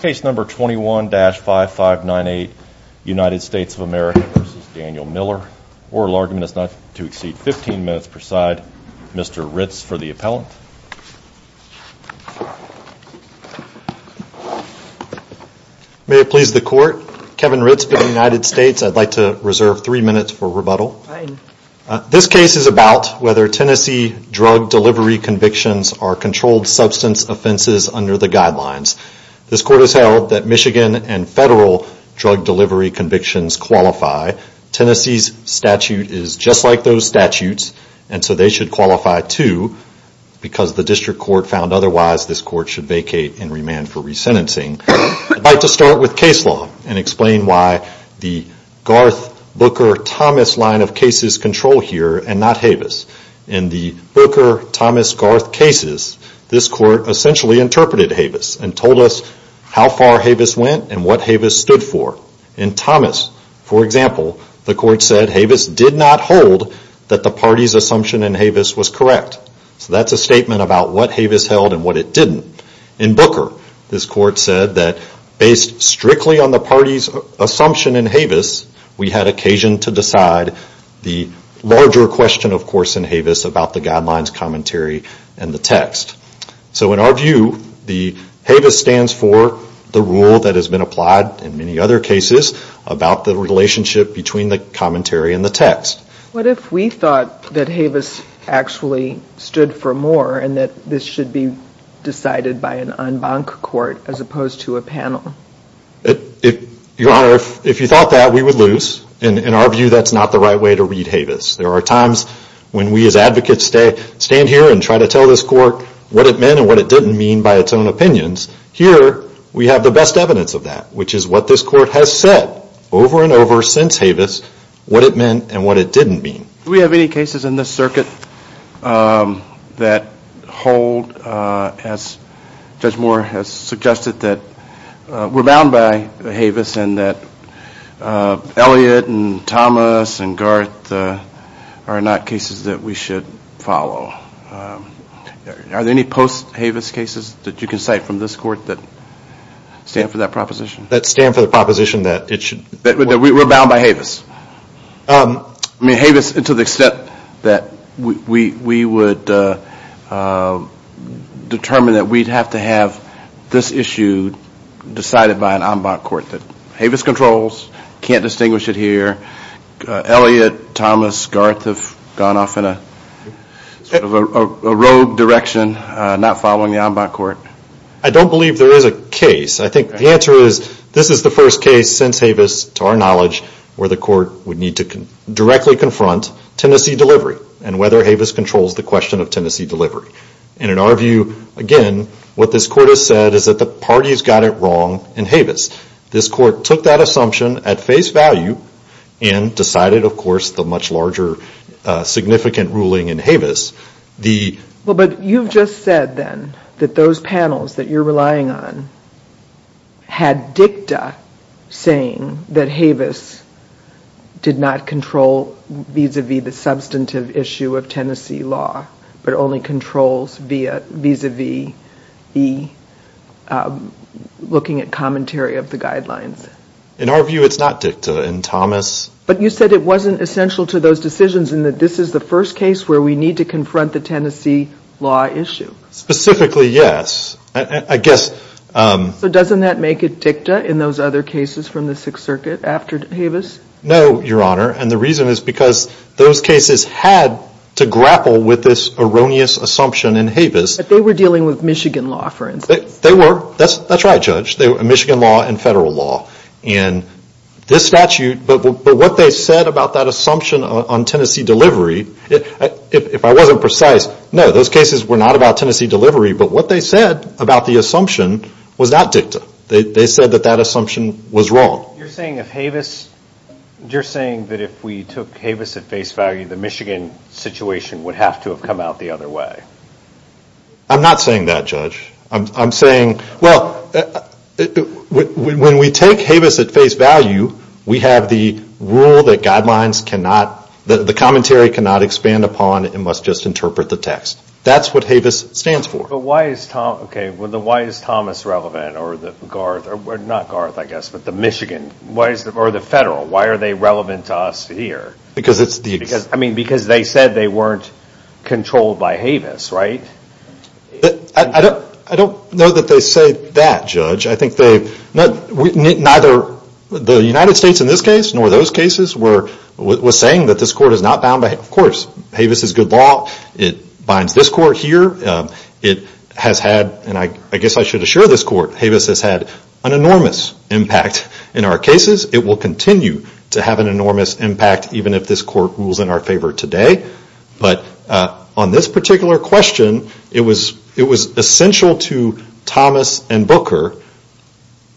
Case number 21-5598 United States of America v. Daniel Miller. Oral argument is not to exceed 15 minutes per side. Mr. Ritz for the appellant. May it please the court. Kevin Ritz for the United States. I'd like to reserve 3 minutes for rebuttal. This case is about whether Tennessee drug delivery convictions are controlled substance offenses under the guidelines. This court has held that Michigan and federal drug delivery convictions qualify. Tennessee's statute is just like those statutes and so they should qualify too. Because the district court found otherwise this court should vacate and remand for resentencing. I'd like to start with case law and explain why the Garth-Booker-Thomas line of cases control here and not Havis. In the Booker-Thomas-Garth cases this court essentially interpreted Havis and told us how far Havis went and what Havis stood for. In Thomas, for example, the court said Havis did not hold that the party's assumption in Havis was correct. So that's a statement about what Havis held and what it didn't. In Booker this court said that based strictly on the party's assumption in Havis we had occasion to decide the larger question of course in Havis about the guidelines commentary and the text. So in our view Havis stands for the rule that has been applied in many other cases about the relationship between the commentary and the text. What if we thought that Havis actually stood for more and that this should be decided by an en banc court as opposed to a panel? Your Honor, if you thought that we would lose. In our view that's not the right way to read Havis. There are times when we as advocates stand here and try to tell this court what it meant and what it didn't mean by its own opinions. Here we have the best evidence of that which is what this court has said over and over since Havis what it meant and what it didn't mean. Do we have any cases in this circuit that hold as Judge Moore has suggested that we're bound by Havis and that Elliot and Thomas and Garth are not cases that we should follow? Are there any post Havis cases that you can cite from this court that stand for that proposition? That stand for the proposition that we're bound by Havis? Havis to the extent that we would determine that we'd have to have this issue decided by an en banc court that Havis controls, can't distinguish it here. Elliot, Thomas, Garth have gone off in a rogue direction not following the en banc court. I don't believe there is a case. I think the answer is this is the first case since Havis to our knowledge where the court would need to directly confront Tennessee delivery and whether Havis controls the question of Tennessee delivery. And in our view again what this court has said is that the parties got it wrong in Havis. This court took that assumption at face value and decided of course the much larger significant ruling in Havis. But you've just said then that those panels that you're relying on had dicta saying that Havis did not control vis-a-vis the substantive issue of Tennessee law but only controls vis-a-vis the looking at commentary of the guidelines. In our view it's not dicta. But you said it wasn't essential to those decisions in that this is the first case where we need to confront the Tennessee law issue. Specifically yes. So doesn't that make it dicta in those other cases from the Sixth Circuit after Havis? No, Your Honor, and the reason is because those cases had to grapple with this erroneous assumption in Havis. But they were dealing with Michigan law for instance. They were, that's right Judge, Michigan law and federal law. And this statute, but what they said about that assumption on Tennessee delivery, if I wasn't precise, no those cases were not about Tennessee delivery but what they said about the assumption was not dicta. They said that that assumption was wrong. You're saying that if we took Havis at face value the Michigan situation would have to have come out the other way. I'm not saying that, Judge. When we take Havis at face value we have the rule that guidelines cannot, the commentary cannot expand upon, it must just interpret the text. That's what Havis stands for. But why is Thomas relevant or the Michigan, or the federal, why are they relevant to us here? Because they said they weren't controlled by Havis, right? I don't know that they say that, Judge. Neither the United States in this case nor those cases were saying that this court is not bound by Havis. Of course, Havis is good law, it binds this court here. It has had, and I guess I should assure this court, Havis has had an enormous impact in our cases. It will continue to have an enormous impact even if this court rules in our favor today. But on this particular question it was essential to Thomas and Booker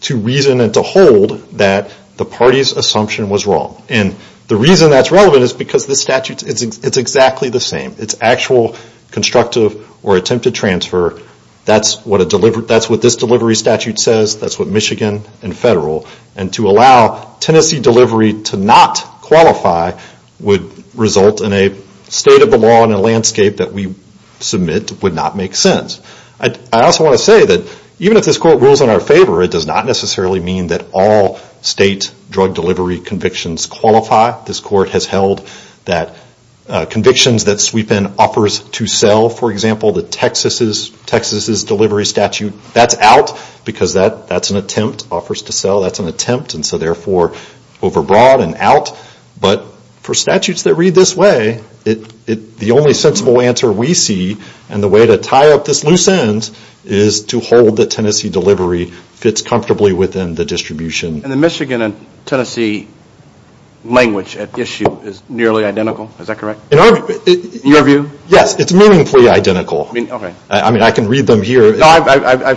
to reason and to hold that the party's assumption was wrong. And the reason that's relevant is because this statute, it's exactly the same. It's actual constructive or attempted transfer. That's what this delivery statute says, that's what Michigan and federal. And to allow Tennessee delivery to not qualify would result in a state of the law and a landscape that we submit would not make sense. I also want to say that even if this court rules in our favor it does not necessarily mean that all state drug delivery convictions qualify. This court has held that convictions that sweep in offers to sell. For example, the Texas's delivery statute, that's out because that's an attempt. Offers to sell, that's an attempt and so therefore over broad and out. But for statutes that read this way, the only sensible answer we see and the way to tie up this loose end is to hold that Tennessee delivery fits comfortably within the distribution. And the Michigan and Tennessee language at issue is nearly identical, is that correct? In your view? Yes, it's meaningfully identical. I can read them here. But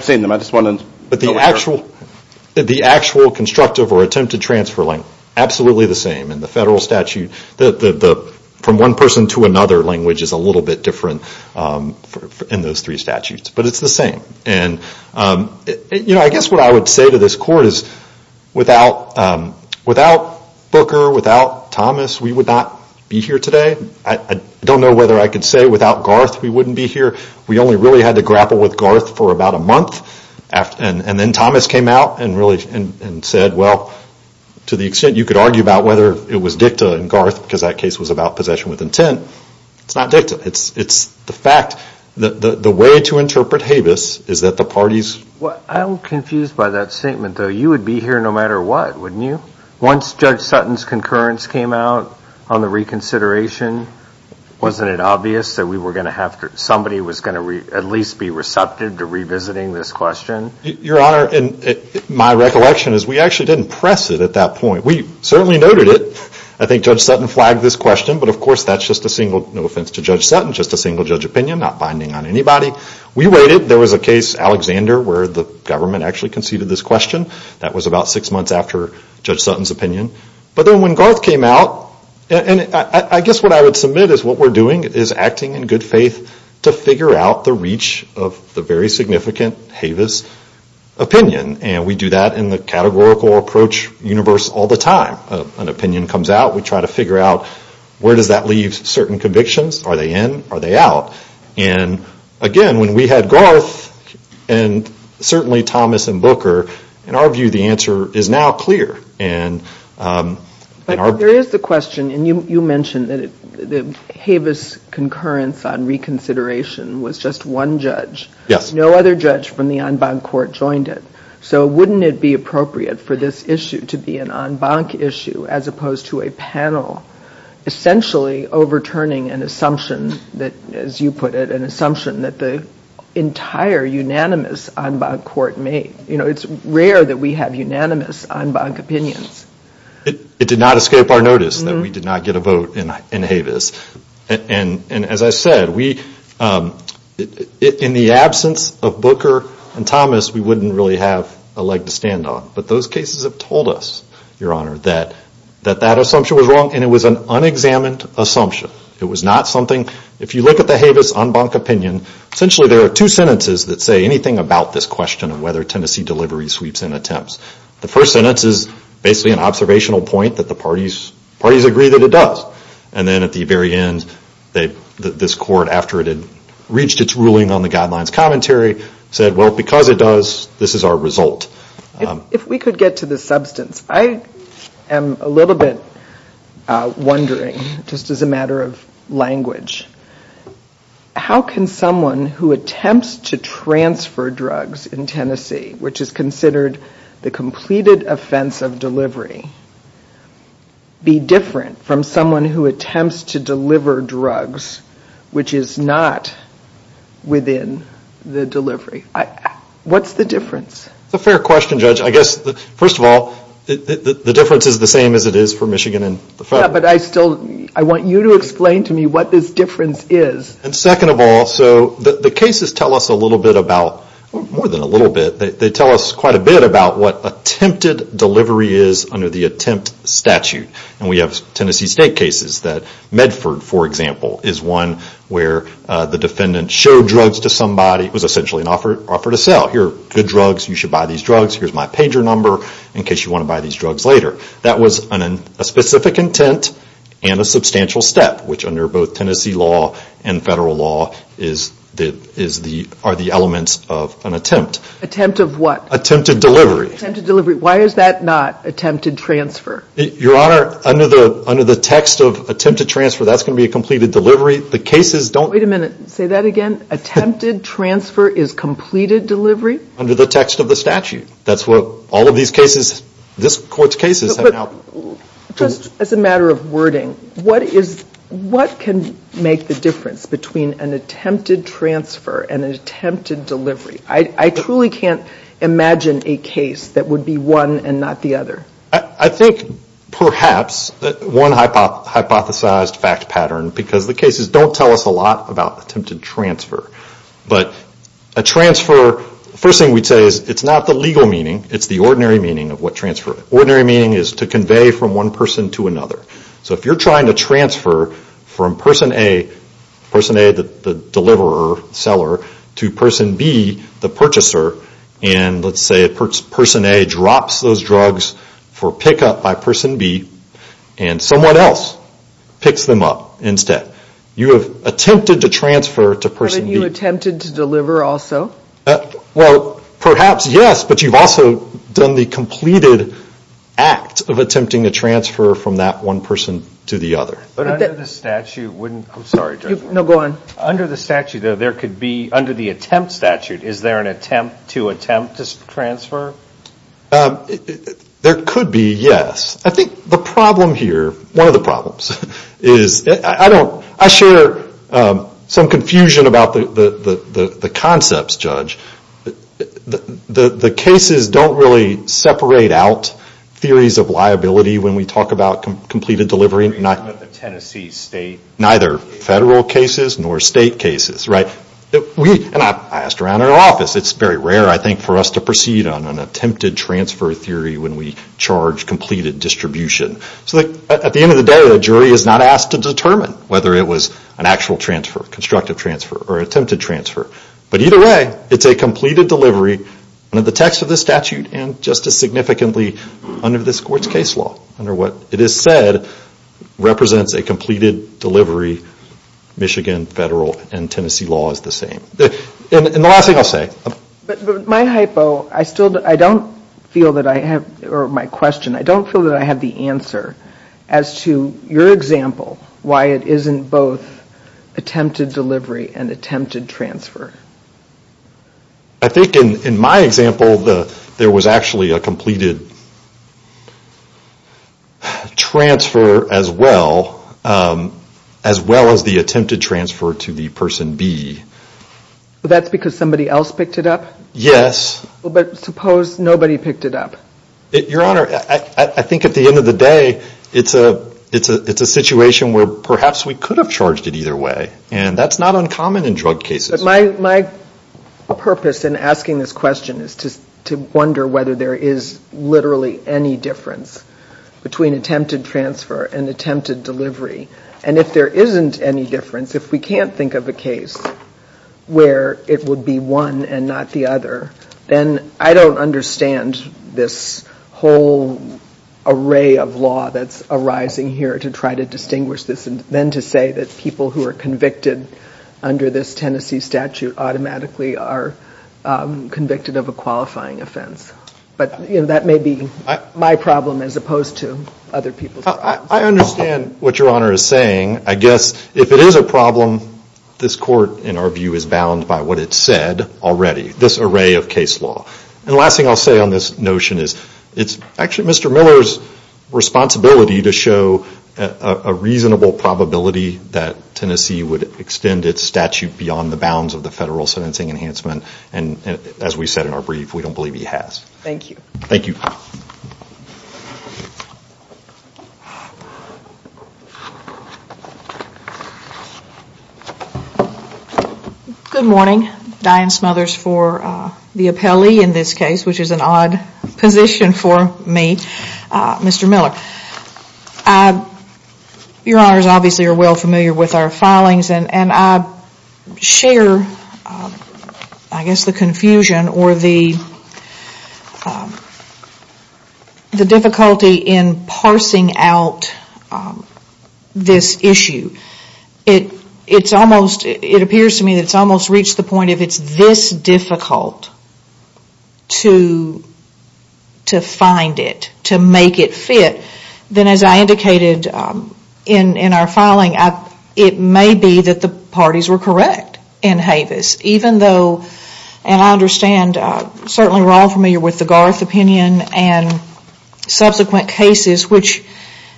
the actual constructive or attempted transfer, absolutely the same. And the federal statute, from one person to another language is a little bit different in those three statutes. But it's the same. I guess what I would say to this court is without Booker, without Thomas, we would not be here today. I don't know whether I could say without Garth we wouldn't be here. We only really had to grapple with Garth for about a month and then Thomas came out and said, well, to the extent you could argue about whether it was dicta in Garth because that case was about possession with intent. It's not dicta. It's the fact, the way to interpret Havis is that the parties... I'm confused by that statement, though. You would be here no matter what, wouldn't you? Once Judge Sutton's concurrence came out on the reconsideration, wasn't it obvious that we were going to have to, somebody was going to at least be receptive to revisiting this question? Your Honor, my recollection is we actually didn't press it at that point. We certainly noted it. I think Judge Sutton flagged this question, but of course that's just a single, no offense to Judge Sutton, just a single judge opinion, not binding on anybody. We waited. There was a case, Alexander, where the government actually conceded this question. But then when Garth came out, and I guess what I would submit is what we're doing is acting in good faith to figure out the reach of the very significant Havis opinion. And we do that in the categorical approach universe all the time. An opinion comes out, we try to figure out where does that leave certain convictions. Are they in? Are they out? And again, when we had Garth and certainly Thomas and Booker, in our view the answer is now clear. But there is the question, and you mentioned that the Havis concurrence on reconsideration was just one judge. No other judge from the en banc court joined it. So wouldn't it be appropriate for this issue to be an en banc issue as opposed to a panel, essentially overturning an assumption that, as you put it, an assumption that the entire unanimous en banc court made. It's rare that we have unanimous en banc opinions. It did not escape our notice that we did not get a vote in Havis. And as I said, in the absence of Booker and Thomas, we wouldn't really have a leg to stand on. But those cases have told us, Your Honor, that that assumption was wrong and it was an unexamined assumption. It was not something, if you look at the Havis en banc opinion, essentially there are two sentences that say anything about this question of whether Tennessee delivery sweeps in attempts. The first sentence is basically an observational point that the parties agree that it does. And then at the very end, this court, after it had reached its ruling on the guidelines commentary, said, well, because it does, this is our result. If we could get to the substance, I am a little bit wondering, just as a matter of language, how can someone who attempts to transfer drugs in Tennessee, which is considered the completed offense of delivery, be different from someone who attempts to deliver drugs, which is not within the delivery? What's the difference? And second of all, the cases tell us quite a bit about what attempted delivery is under the attempt statute. And we have Tennessee State cases that Medford, for example, is one where the defendant showed drugs to somebody. It was essentially an offer to sell. Here are good drugs, you should buy these drugs, here's my pager number in case you want to buy these drugs later. That was a specific intent and a substantial step, which under both Tennessee law and federal law are the elements of an attempt. Attempt of what? Attempted delivery. Attempted delivery, why is that not attempted transfer? Your Honor, under the text of attempted transfer, that's going to be a completed delivery. Wait a minute, say that again? Attempted transfer is completed delivery? Under the text of the statute. That's what all of these cases, this Court's cases have now... Just as a matter of wording, what can make the difference between an attempted transfer and an attempted delivery? I truly can't imagine a case that would be one and not the other. I think perhaps one hypothesized fact pattern, because the cases don't tell us a lot about attempted transfer. But a transfer, the first thing we'd say is it's not the legal meaning, it's the ordinary meaning of what transfer is. Ordinary meaning is to convey from one person to another. So if you're trying to transfer from Person A, the deliverer, seller, to Person B, the purchaser, and let's say Person A drops those drugs for pickup by Person B, and someone else picks them up instead. You have attempted to transfer to Person B. But have you attempted to deliver also? Well, perhaps yes, but you've also done the completed act of attempting to transfer from that one person to the other. But under the statute, there could be, under the attempt statute, is there an attempt to attempt to transfer? There could be, yes. I think the problem here, one of the problems, is I don't, I share some confusion about the concepts, Judge. The cases don't really separate out theories of liability when we talk about completed delivery. Neither federal cases nor state cases, right? And I've asked around our office, it's very rare, I think, for us to proceed on an attempted transfer theory when we charge completed distribution. So at the end of the day, a jury is not asked to determine whether it was an actual transfer, constructive transfer, or attempted transfer. But either way, it's a completed delivery under the text of the statute and just as significantly under this court's case law. Under what it is said represents a completed delivery, Michigan federal and Tennessee law is the same. And the last thing I'll say. But my hypo, I don't feel that I have, or my question, I don't feel that I have the answer as to your example, why it isn't both attempted delivery and attempted transfer. I think in my example, there was actually a completed transfer as well, as well as the attempted transfer to the person B. That's because somebody else picked it up? Yes. But suppose nobody picked it up? Your Honor, I think at the end of the day, it's a situation where perhaps we could have charged it either way. And that's not uncommon in drug cases. My purpose in asking this question is to wonder whether there is literally any difference between attempted transfer and attempted delivery. Where it would be one and not the other. And I don't understand this whole array of law that's arising here to try to distinguish this. And then to say that people who are convicted under this Tennessee statute automatically are convicted of a qualifying offense. But that may be my problem as opposed to other people's problems. I understand what Your Honor is saying. I guess if it is a problem, this court, in our view, is bound by what it said already. This array of case law. And the last thing I'll say on this notion is it's actually Mr. Miller's responsibility to show a reasonable probability that Tennessee would extend its statute beyond the bounds of the federal sentencing enhancement. And as we said in our brief, we don't believe he has. Thank you. Good morning. Diane Smothers for the appellee in this case, which is an odd position for me. Mr. Miller. Your Honor is obviously well familiar with our filings. And I share, I guess, the confusion or the difficulty in parsing out this issue. It appears to me it's almost reached the point of it's this difficult to find it, to make it fit. Then as I indicated in our filing, it may be that the parties were correct in Havis, even though, and I understand certainly we're all familiar with the Garth opinion and subsequent cases which,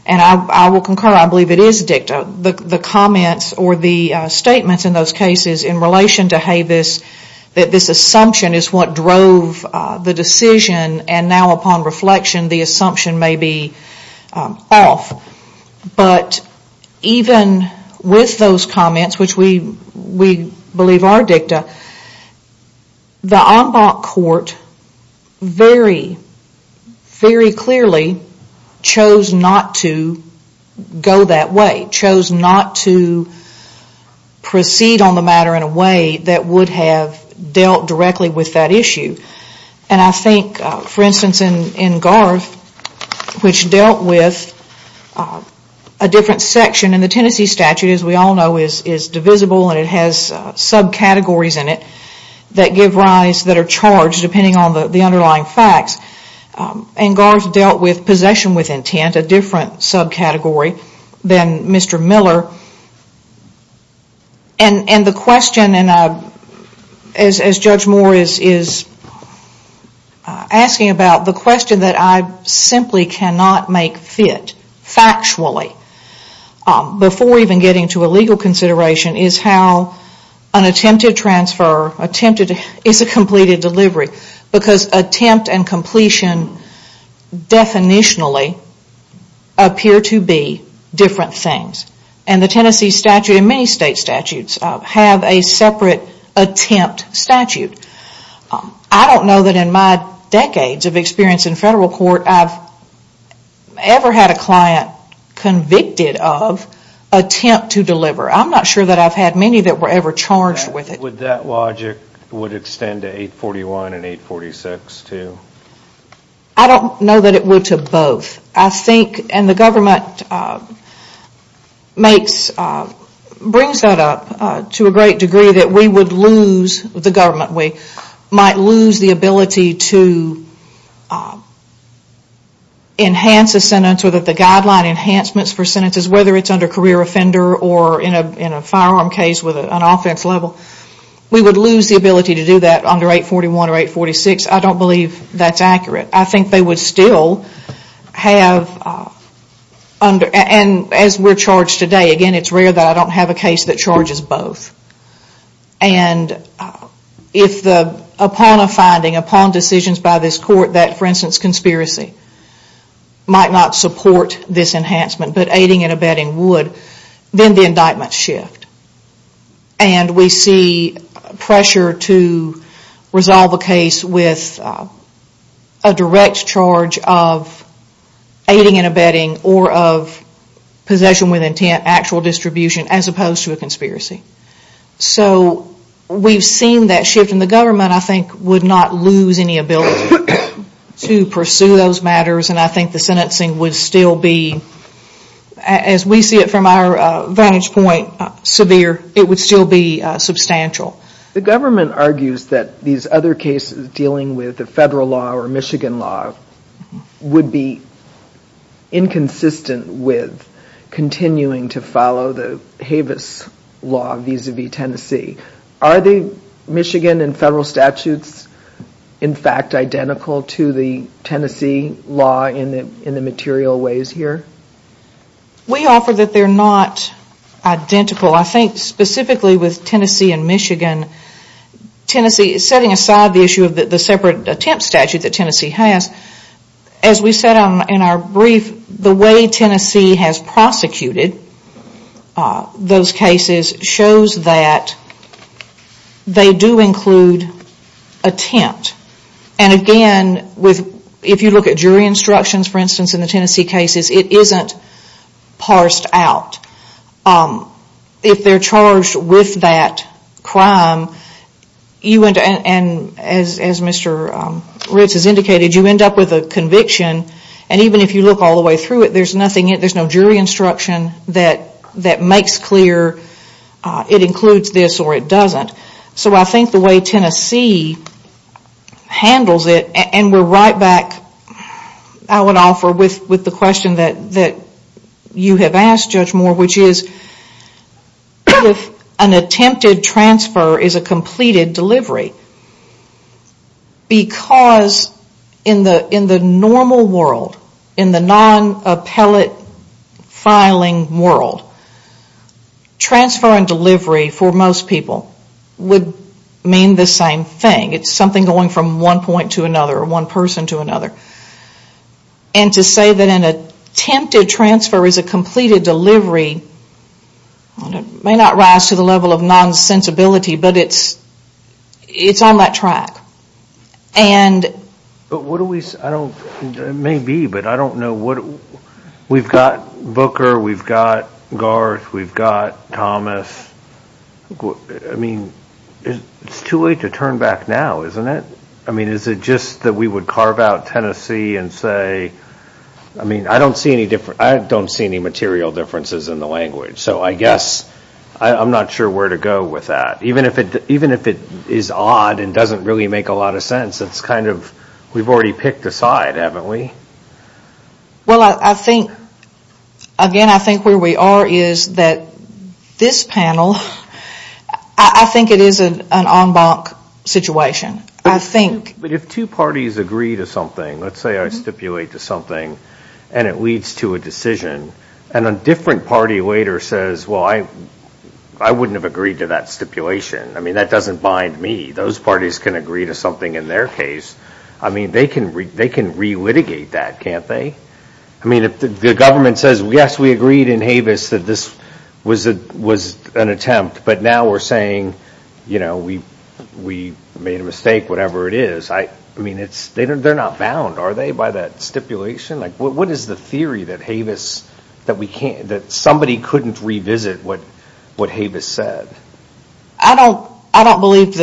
and I will concur, I believe it is dicta, the comments or the statements in those cases in relation to Havis, that this assumption is what drove the decision. And now upon reflection, the assumption may be off. But even with those comments, which we believe are dicta, the Ombak court very, very clearly chose not to go that way. Chose not to proceed on the matter in a way that would have dealt directly with that issue. And I think, for instance, in Garth, which dealt with a different section in the Tennessee statute, as we all know, is divisible and it has subcategories in it that give rise that are charged depending on the underlying facts. And Garth dealt with possession with intent, a different subcategory than Mr. Miller. And the question, as Judge Moore is asking about, the question that I simply cannot make fit factually before even getting to a legal consideration is how an attempted transfer, attempted, is a completed delivery because attempt and completion definitionally appear to be different things. And the Tennessee statute and many state statutes have a separate attempt statute. I don't know that in my decades of experience in federal court I have ever had a client convicted of attempt to deliver. I'm not sure that I've had many that were ever charged with it. I don't know that it would to both. I think, and the government brings that up to a great degree, that we would lose, the government, we might lose the ability to enhance a sentence or that the guideline enhancements for sentences, whether it's under career offender or in a firearm case with an offense level, we would lose the ability to do that under 841 or 846. I don't believe that's accurate. I think they would still have, and as we're charged today, again, it's clear that I don't have a case that charges both. Upon a finding, upon decisions by this court that, for instance, conspiracy might not support this enhancement, but aiding and abetting would, then the indictments shift. And we see pressure to resolve a case with a direct charge of possession with intent, actual distribution, as opposed to a conspiracy. So we've seen that shift, and the government, I think, would not lose any ability to pursue those matters, and I think the sentencing would still be, as we see it from our vantage point, severe, it would still be substantial. The government argues that these other cases dealing with the federal law or Michigan law would be inconsistent with continuing to follow the Havis law vis-à-vis Tennessee. Are the Michigan and federal statutes, in fact, identical to the Tennessee law in the material ways here? We offer that they're not identical. I think specifically with Tennessee and Michigan, Tennessee, setting aside the issue of the separate attempt statute that Tennessee has, as we said in our brief, the way Tennessee has prosecuted those cases shows that they do include attempt. And again, if you look at jury instructions, for instance, in the Tennessee cases, it isn't parsed out. If they're charged with that crime, as Mr. Ritz has indicated, you end up with a conviction, and even if you look all the way through it, there's no jury instruction that makes clear it includes this or it doesn't. So I think the way Tennessee handles it, and we're right back, I would offer, with the question that you have asked, Judge Moore, which is if an attempted transfer is a completed delivery, because in the normal world, in the non-appellate filing world, transfer and delivery for most people would mean the same thing. It's something going from one point to another or one person to another. And to say that an attempted transfer is a completed delivery may not rise to the level of nonsensibility, but it's on that track. It may be, but I don't know. We've got too late to turn back now, isn't it? Is it just that we would carve out Tennessee and say, I don't see any material differences in the language, so I guess, I'm not sure where to go with that. Even if it is odd and doesn't really make a lot of sense, it's kind of, we've already picked a side, haven't we? Well, I think, again, I think where we are is that this panel, I think it is an en banc situation. I think. But if two parties agree to something, let's say I stipulate to something and it leads to a decision, and a different party later says, well, I wouldn't have agreed to that stipulation. I mean, that doesn't bind me. Those parties can agree to something in their case. I mean, they can re-litigate that, can't they? I mean, if the government says, yes, we agreed in Havis that this was an attempt, but now we're saying, you know, we made a mistake, whatever it is. I mean, they're not bound, are they, by that stipulation? What is the theory that Havis, that we can't, that somebody couldn't just revisit what Havis said? I don't believe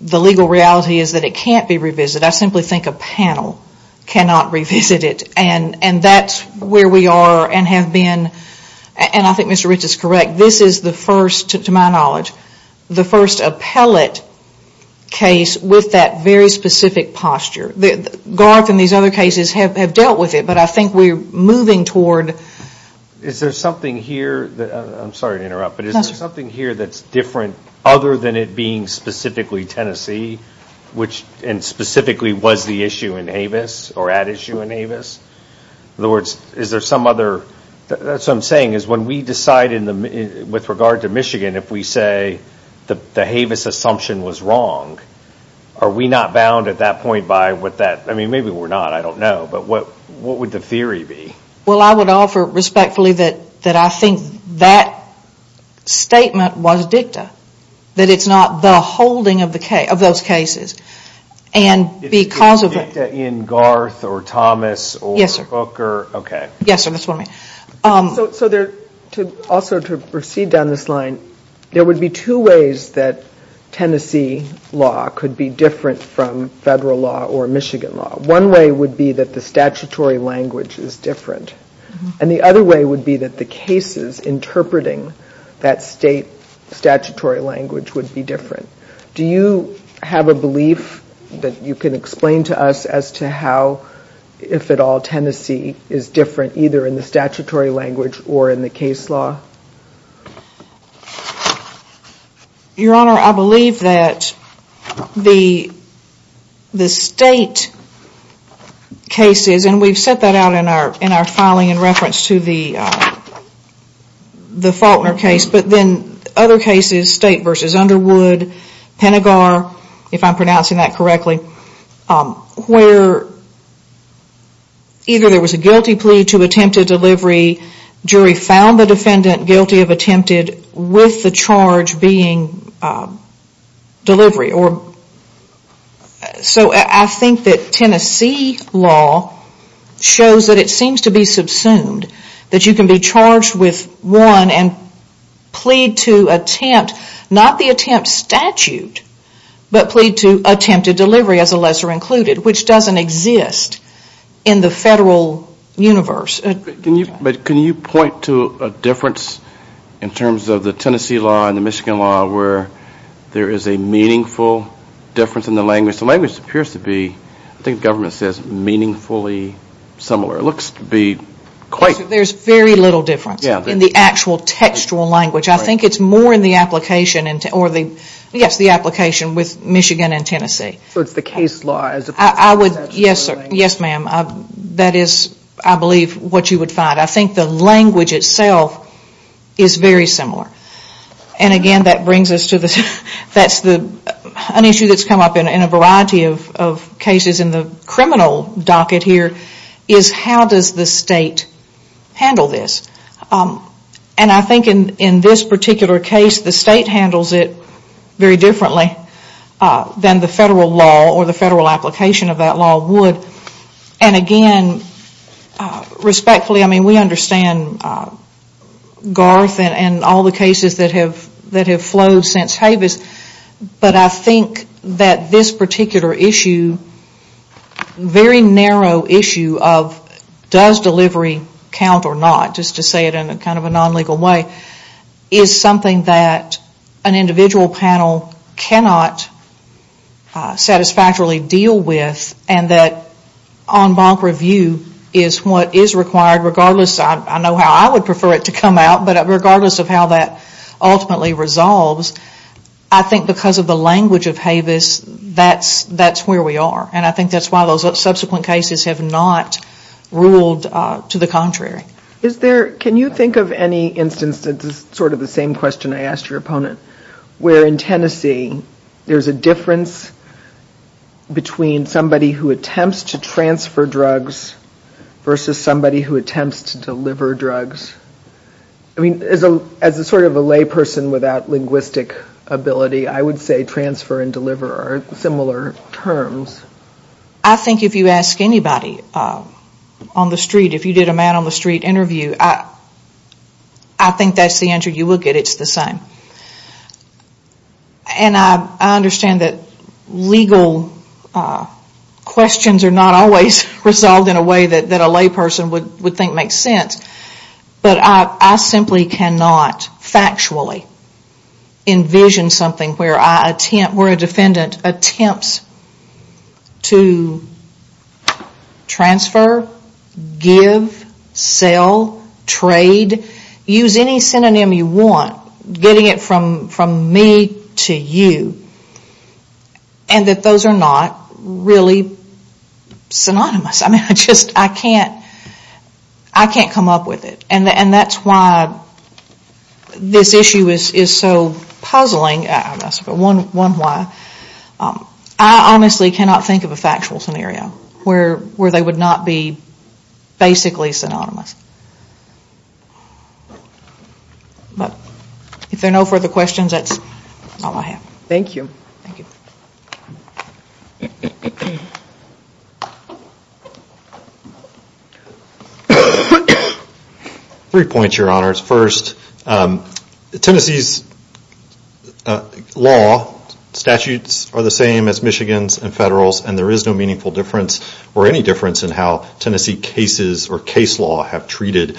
the legal reality is that it can't be revisited. I simply think a panel cannot revisit it. And that's where we are and have been, and I think Mr. Rich is correct, this is the first, to my knowledge, the first appellate case with that very specific posture. Garth and these other cases have dealt with it, but I think we're moving toward... I'm sorry to interrupt, but is there something here that's different other than it being specifically Tennessee, and specifically was the issue in Havis, or at issue in Havis? In other words, is there some other, that's what I'm saying, is when we decide with regard to Michigan, if we say the Havis assumption was wrong, are we not bound at that point by what that, I mean, maybe we're not, I don't know, but what would the theory be? Well, I would offer respectfully that I think that statement was dicta, that it's not the holding of those cases. And because of... Is it dicta in Garth, or Thomas, or Booker? Yes, sir. Okay. Yes, sir, that's what I mean. So there, also to proceed down this line, there would be two ways that Tennessee law could be different from federal law or Michigan law. One way would be that the statutory language is different, and the other way would be that the cases interpreting that state statutory language would be different. Do you have a belief that you can explain to us as to how, if at all, Tennessee is different, either in the statutory language or in the case law? Your Honor, I believe that the state cases, and we've set that out in our filing in reference to the Faulkner case, but then other cases, state versus Underwood, Pentagor, if I'm pronouncing it right, there was a guilty plea to attempted delivery, jury found the defendant guilty of attempted with the charge being delivery. So I think that Tennessee law shows that it seems to be subsumed, that you can be charged with one and plead to attempt, not the attempt statute, but plead to attempt. But can you point to a difference in terms of the Tennessee law and the Michigan law where there is a meaningful difference in the language? The language appears to be, I think the government says, meaningfully similar. It looks to be quite... There's very little difference in the actual textual language. I think it's more in the application, or the application with Michigan and Tennessee. Yes, ma'am. That is, I believe, what you would find. I think the language itself is very similar. And again, that brings us to an issue that's come up in a variety of cases in the criminal docket here, is how does the state handle this? And I think in this particular case, the state handles it very differently than the federal law or the federal application of that law would. And again, respectfully, I mean, we understand Garth and all the cases that have flowed since Havis, but I think that this particular issue, very narrow issue of does delivery count or not, just to say it in kind of a non-legal way, is something that an individual panel cannot satisfactorily deal with, and that on-bonk review is what is required regardless. I know how I would prefer it to come out, but regardless of how that ultimately resolves, I think because of the language of Havis, that's where we are. And I think that's why those subsequent cases have not ruled to the contrary. Can you think of any instance, sort of the same question I asked your opponent, where in Tennessee there's a difference between somebody who attempts to transfer drugs versus somebody who attempts to deliver drugs? I mean, as a sort of a lay person without linguistic ability, I would say transfer and deliver are similar terms. I think if you ask anybody on the street, if you did a man on the street interview, I think that's the answer you will get. It's the same. And I understand that legal questions are not always resolved in a way that a lay person would think makes sense, but I simply cannot factually envision something where a defendant attempts to transfer, give, sell, trade, use any synonym you want, getting it from me to you, and that those are not really synonymous. I mean, I can't come up with it. And that's why this issue is so puzzling. I honestly cannot think of a factual scenario where they would not be basically synonymous. But if there are no further questions, that's all I have. Thank you. Three points, Your Honors. First, Tennessee's law statutes are the same as Michigan's and Federal's, and there is no meaningful difference or any difference in how Tennessee cases or case law have treated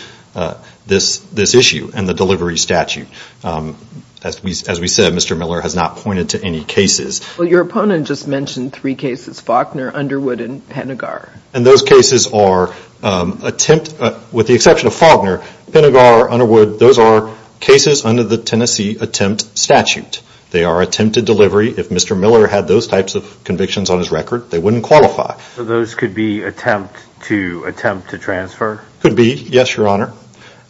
this issue and the delivery statute. As we said, Mr. Miller has not pointed to any cases. Well, your opponent just mentioned three cases, Faulkner, Underwood, and Penegar. And those cases are, with the exception of Faulkner, Penegar, Underwood, those are cases under the Tennessee attempt statute. They are attempted delivery. If Mr. Miller had those types of convictions on his record, they wouldn't qualify. So those could be attempt to transfer? Could be, yes, Your Honor.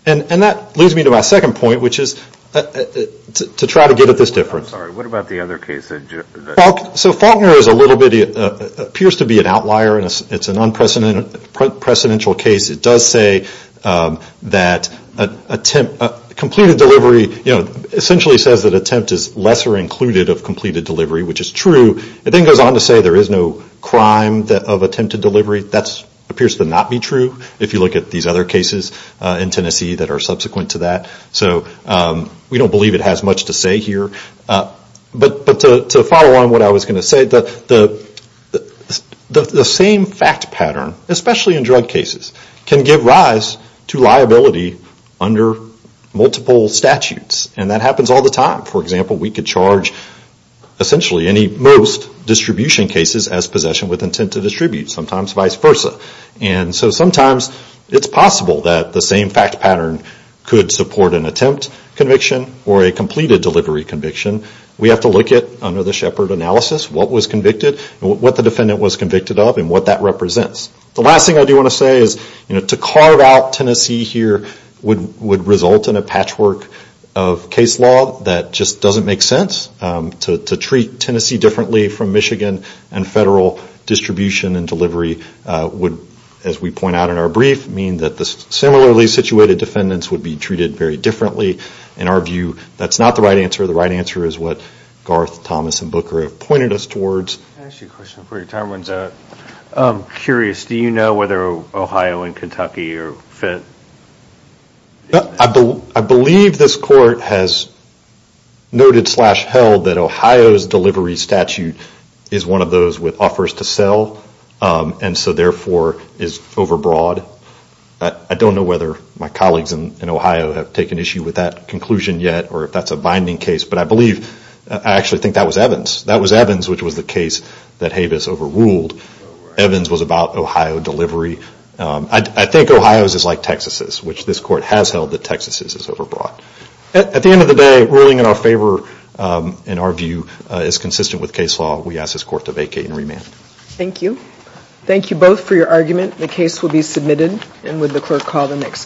And that leads me to my second point, which is to try to get at this difference. I'm sorry. What about the other case? So Faulkner is a little bit, appears to be an outlier. It's an unprecedented case. It does say that attempted, completed delivery, you know, essentially says that attempt is lesser included of completed delivery, which is true. It then goes on to say there is no crime of attempted delivery. That appears to not be true if you look at these other cases in Tennessee that are subsequent to that. So we don't believe it has much to say here. But to follow on what I was going to say, the same fact pattern, especially in drug cases, can give rise to liability under multiple statutes. And that happens all the time. For example, we could charge essentially any most distribution cases as possession with intent to distribute, sometimes vice versa. And so sometimes it's possible that the same fact pattern could support an attempt conviction or a completed delivery conviction. We have to look at, under the Shepard analysis, what was convicted, what the defendant was convicted of, and what that represents. The last thing I do want to say is to carve out Tennessee here would result in a patchwork of case law that just doesn't make sense. To treat Tennessee differently from Michigan and federal distribution and delivery would, as we point out in our brief, mean that the similarly situated defendants would be treated very differently. In our view, that's not the right answer. The right answer is what Garth, Thomas, and Booker have said. I'm curious, do you know whether Ohio and Kentucky are fit? I believe this court has noted slash held that Ohio's delivery statute is one of those with offers to sell, and so therefore is over broad. I don't know whether my colleagues in Ohio have taken issue with that conclusion yet, or if that's a binding case. But I believe, I actually think that was Evans. That was Evans, which was the case that Havis overruled. Evans was about Ohio delivery. I think Ohio's is like Texas's, which this court has held that Texas's is over broad. At the end of the day, ruling in our favor, in our view, is consistent with case law. We ask this court to vacate and remand. Thank you. Thank you both for your argument. The case will be submitted, and would the clerk call the next case.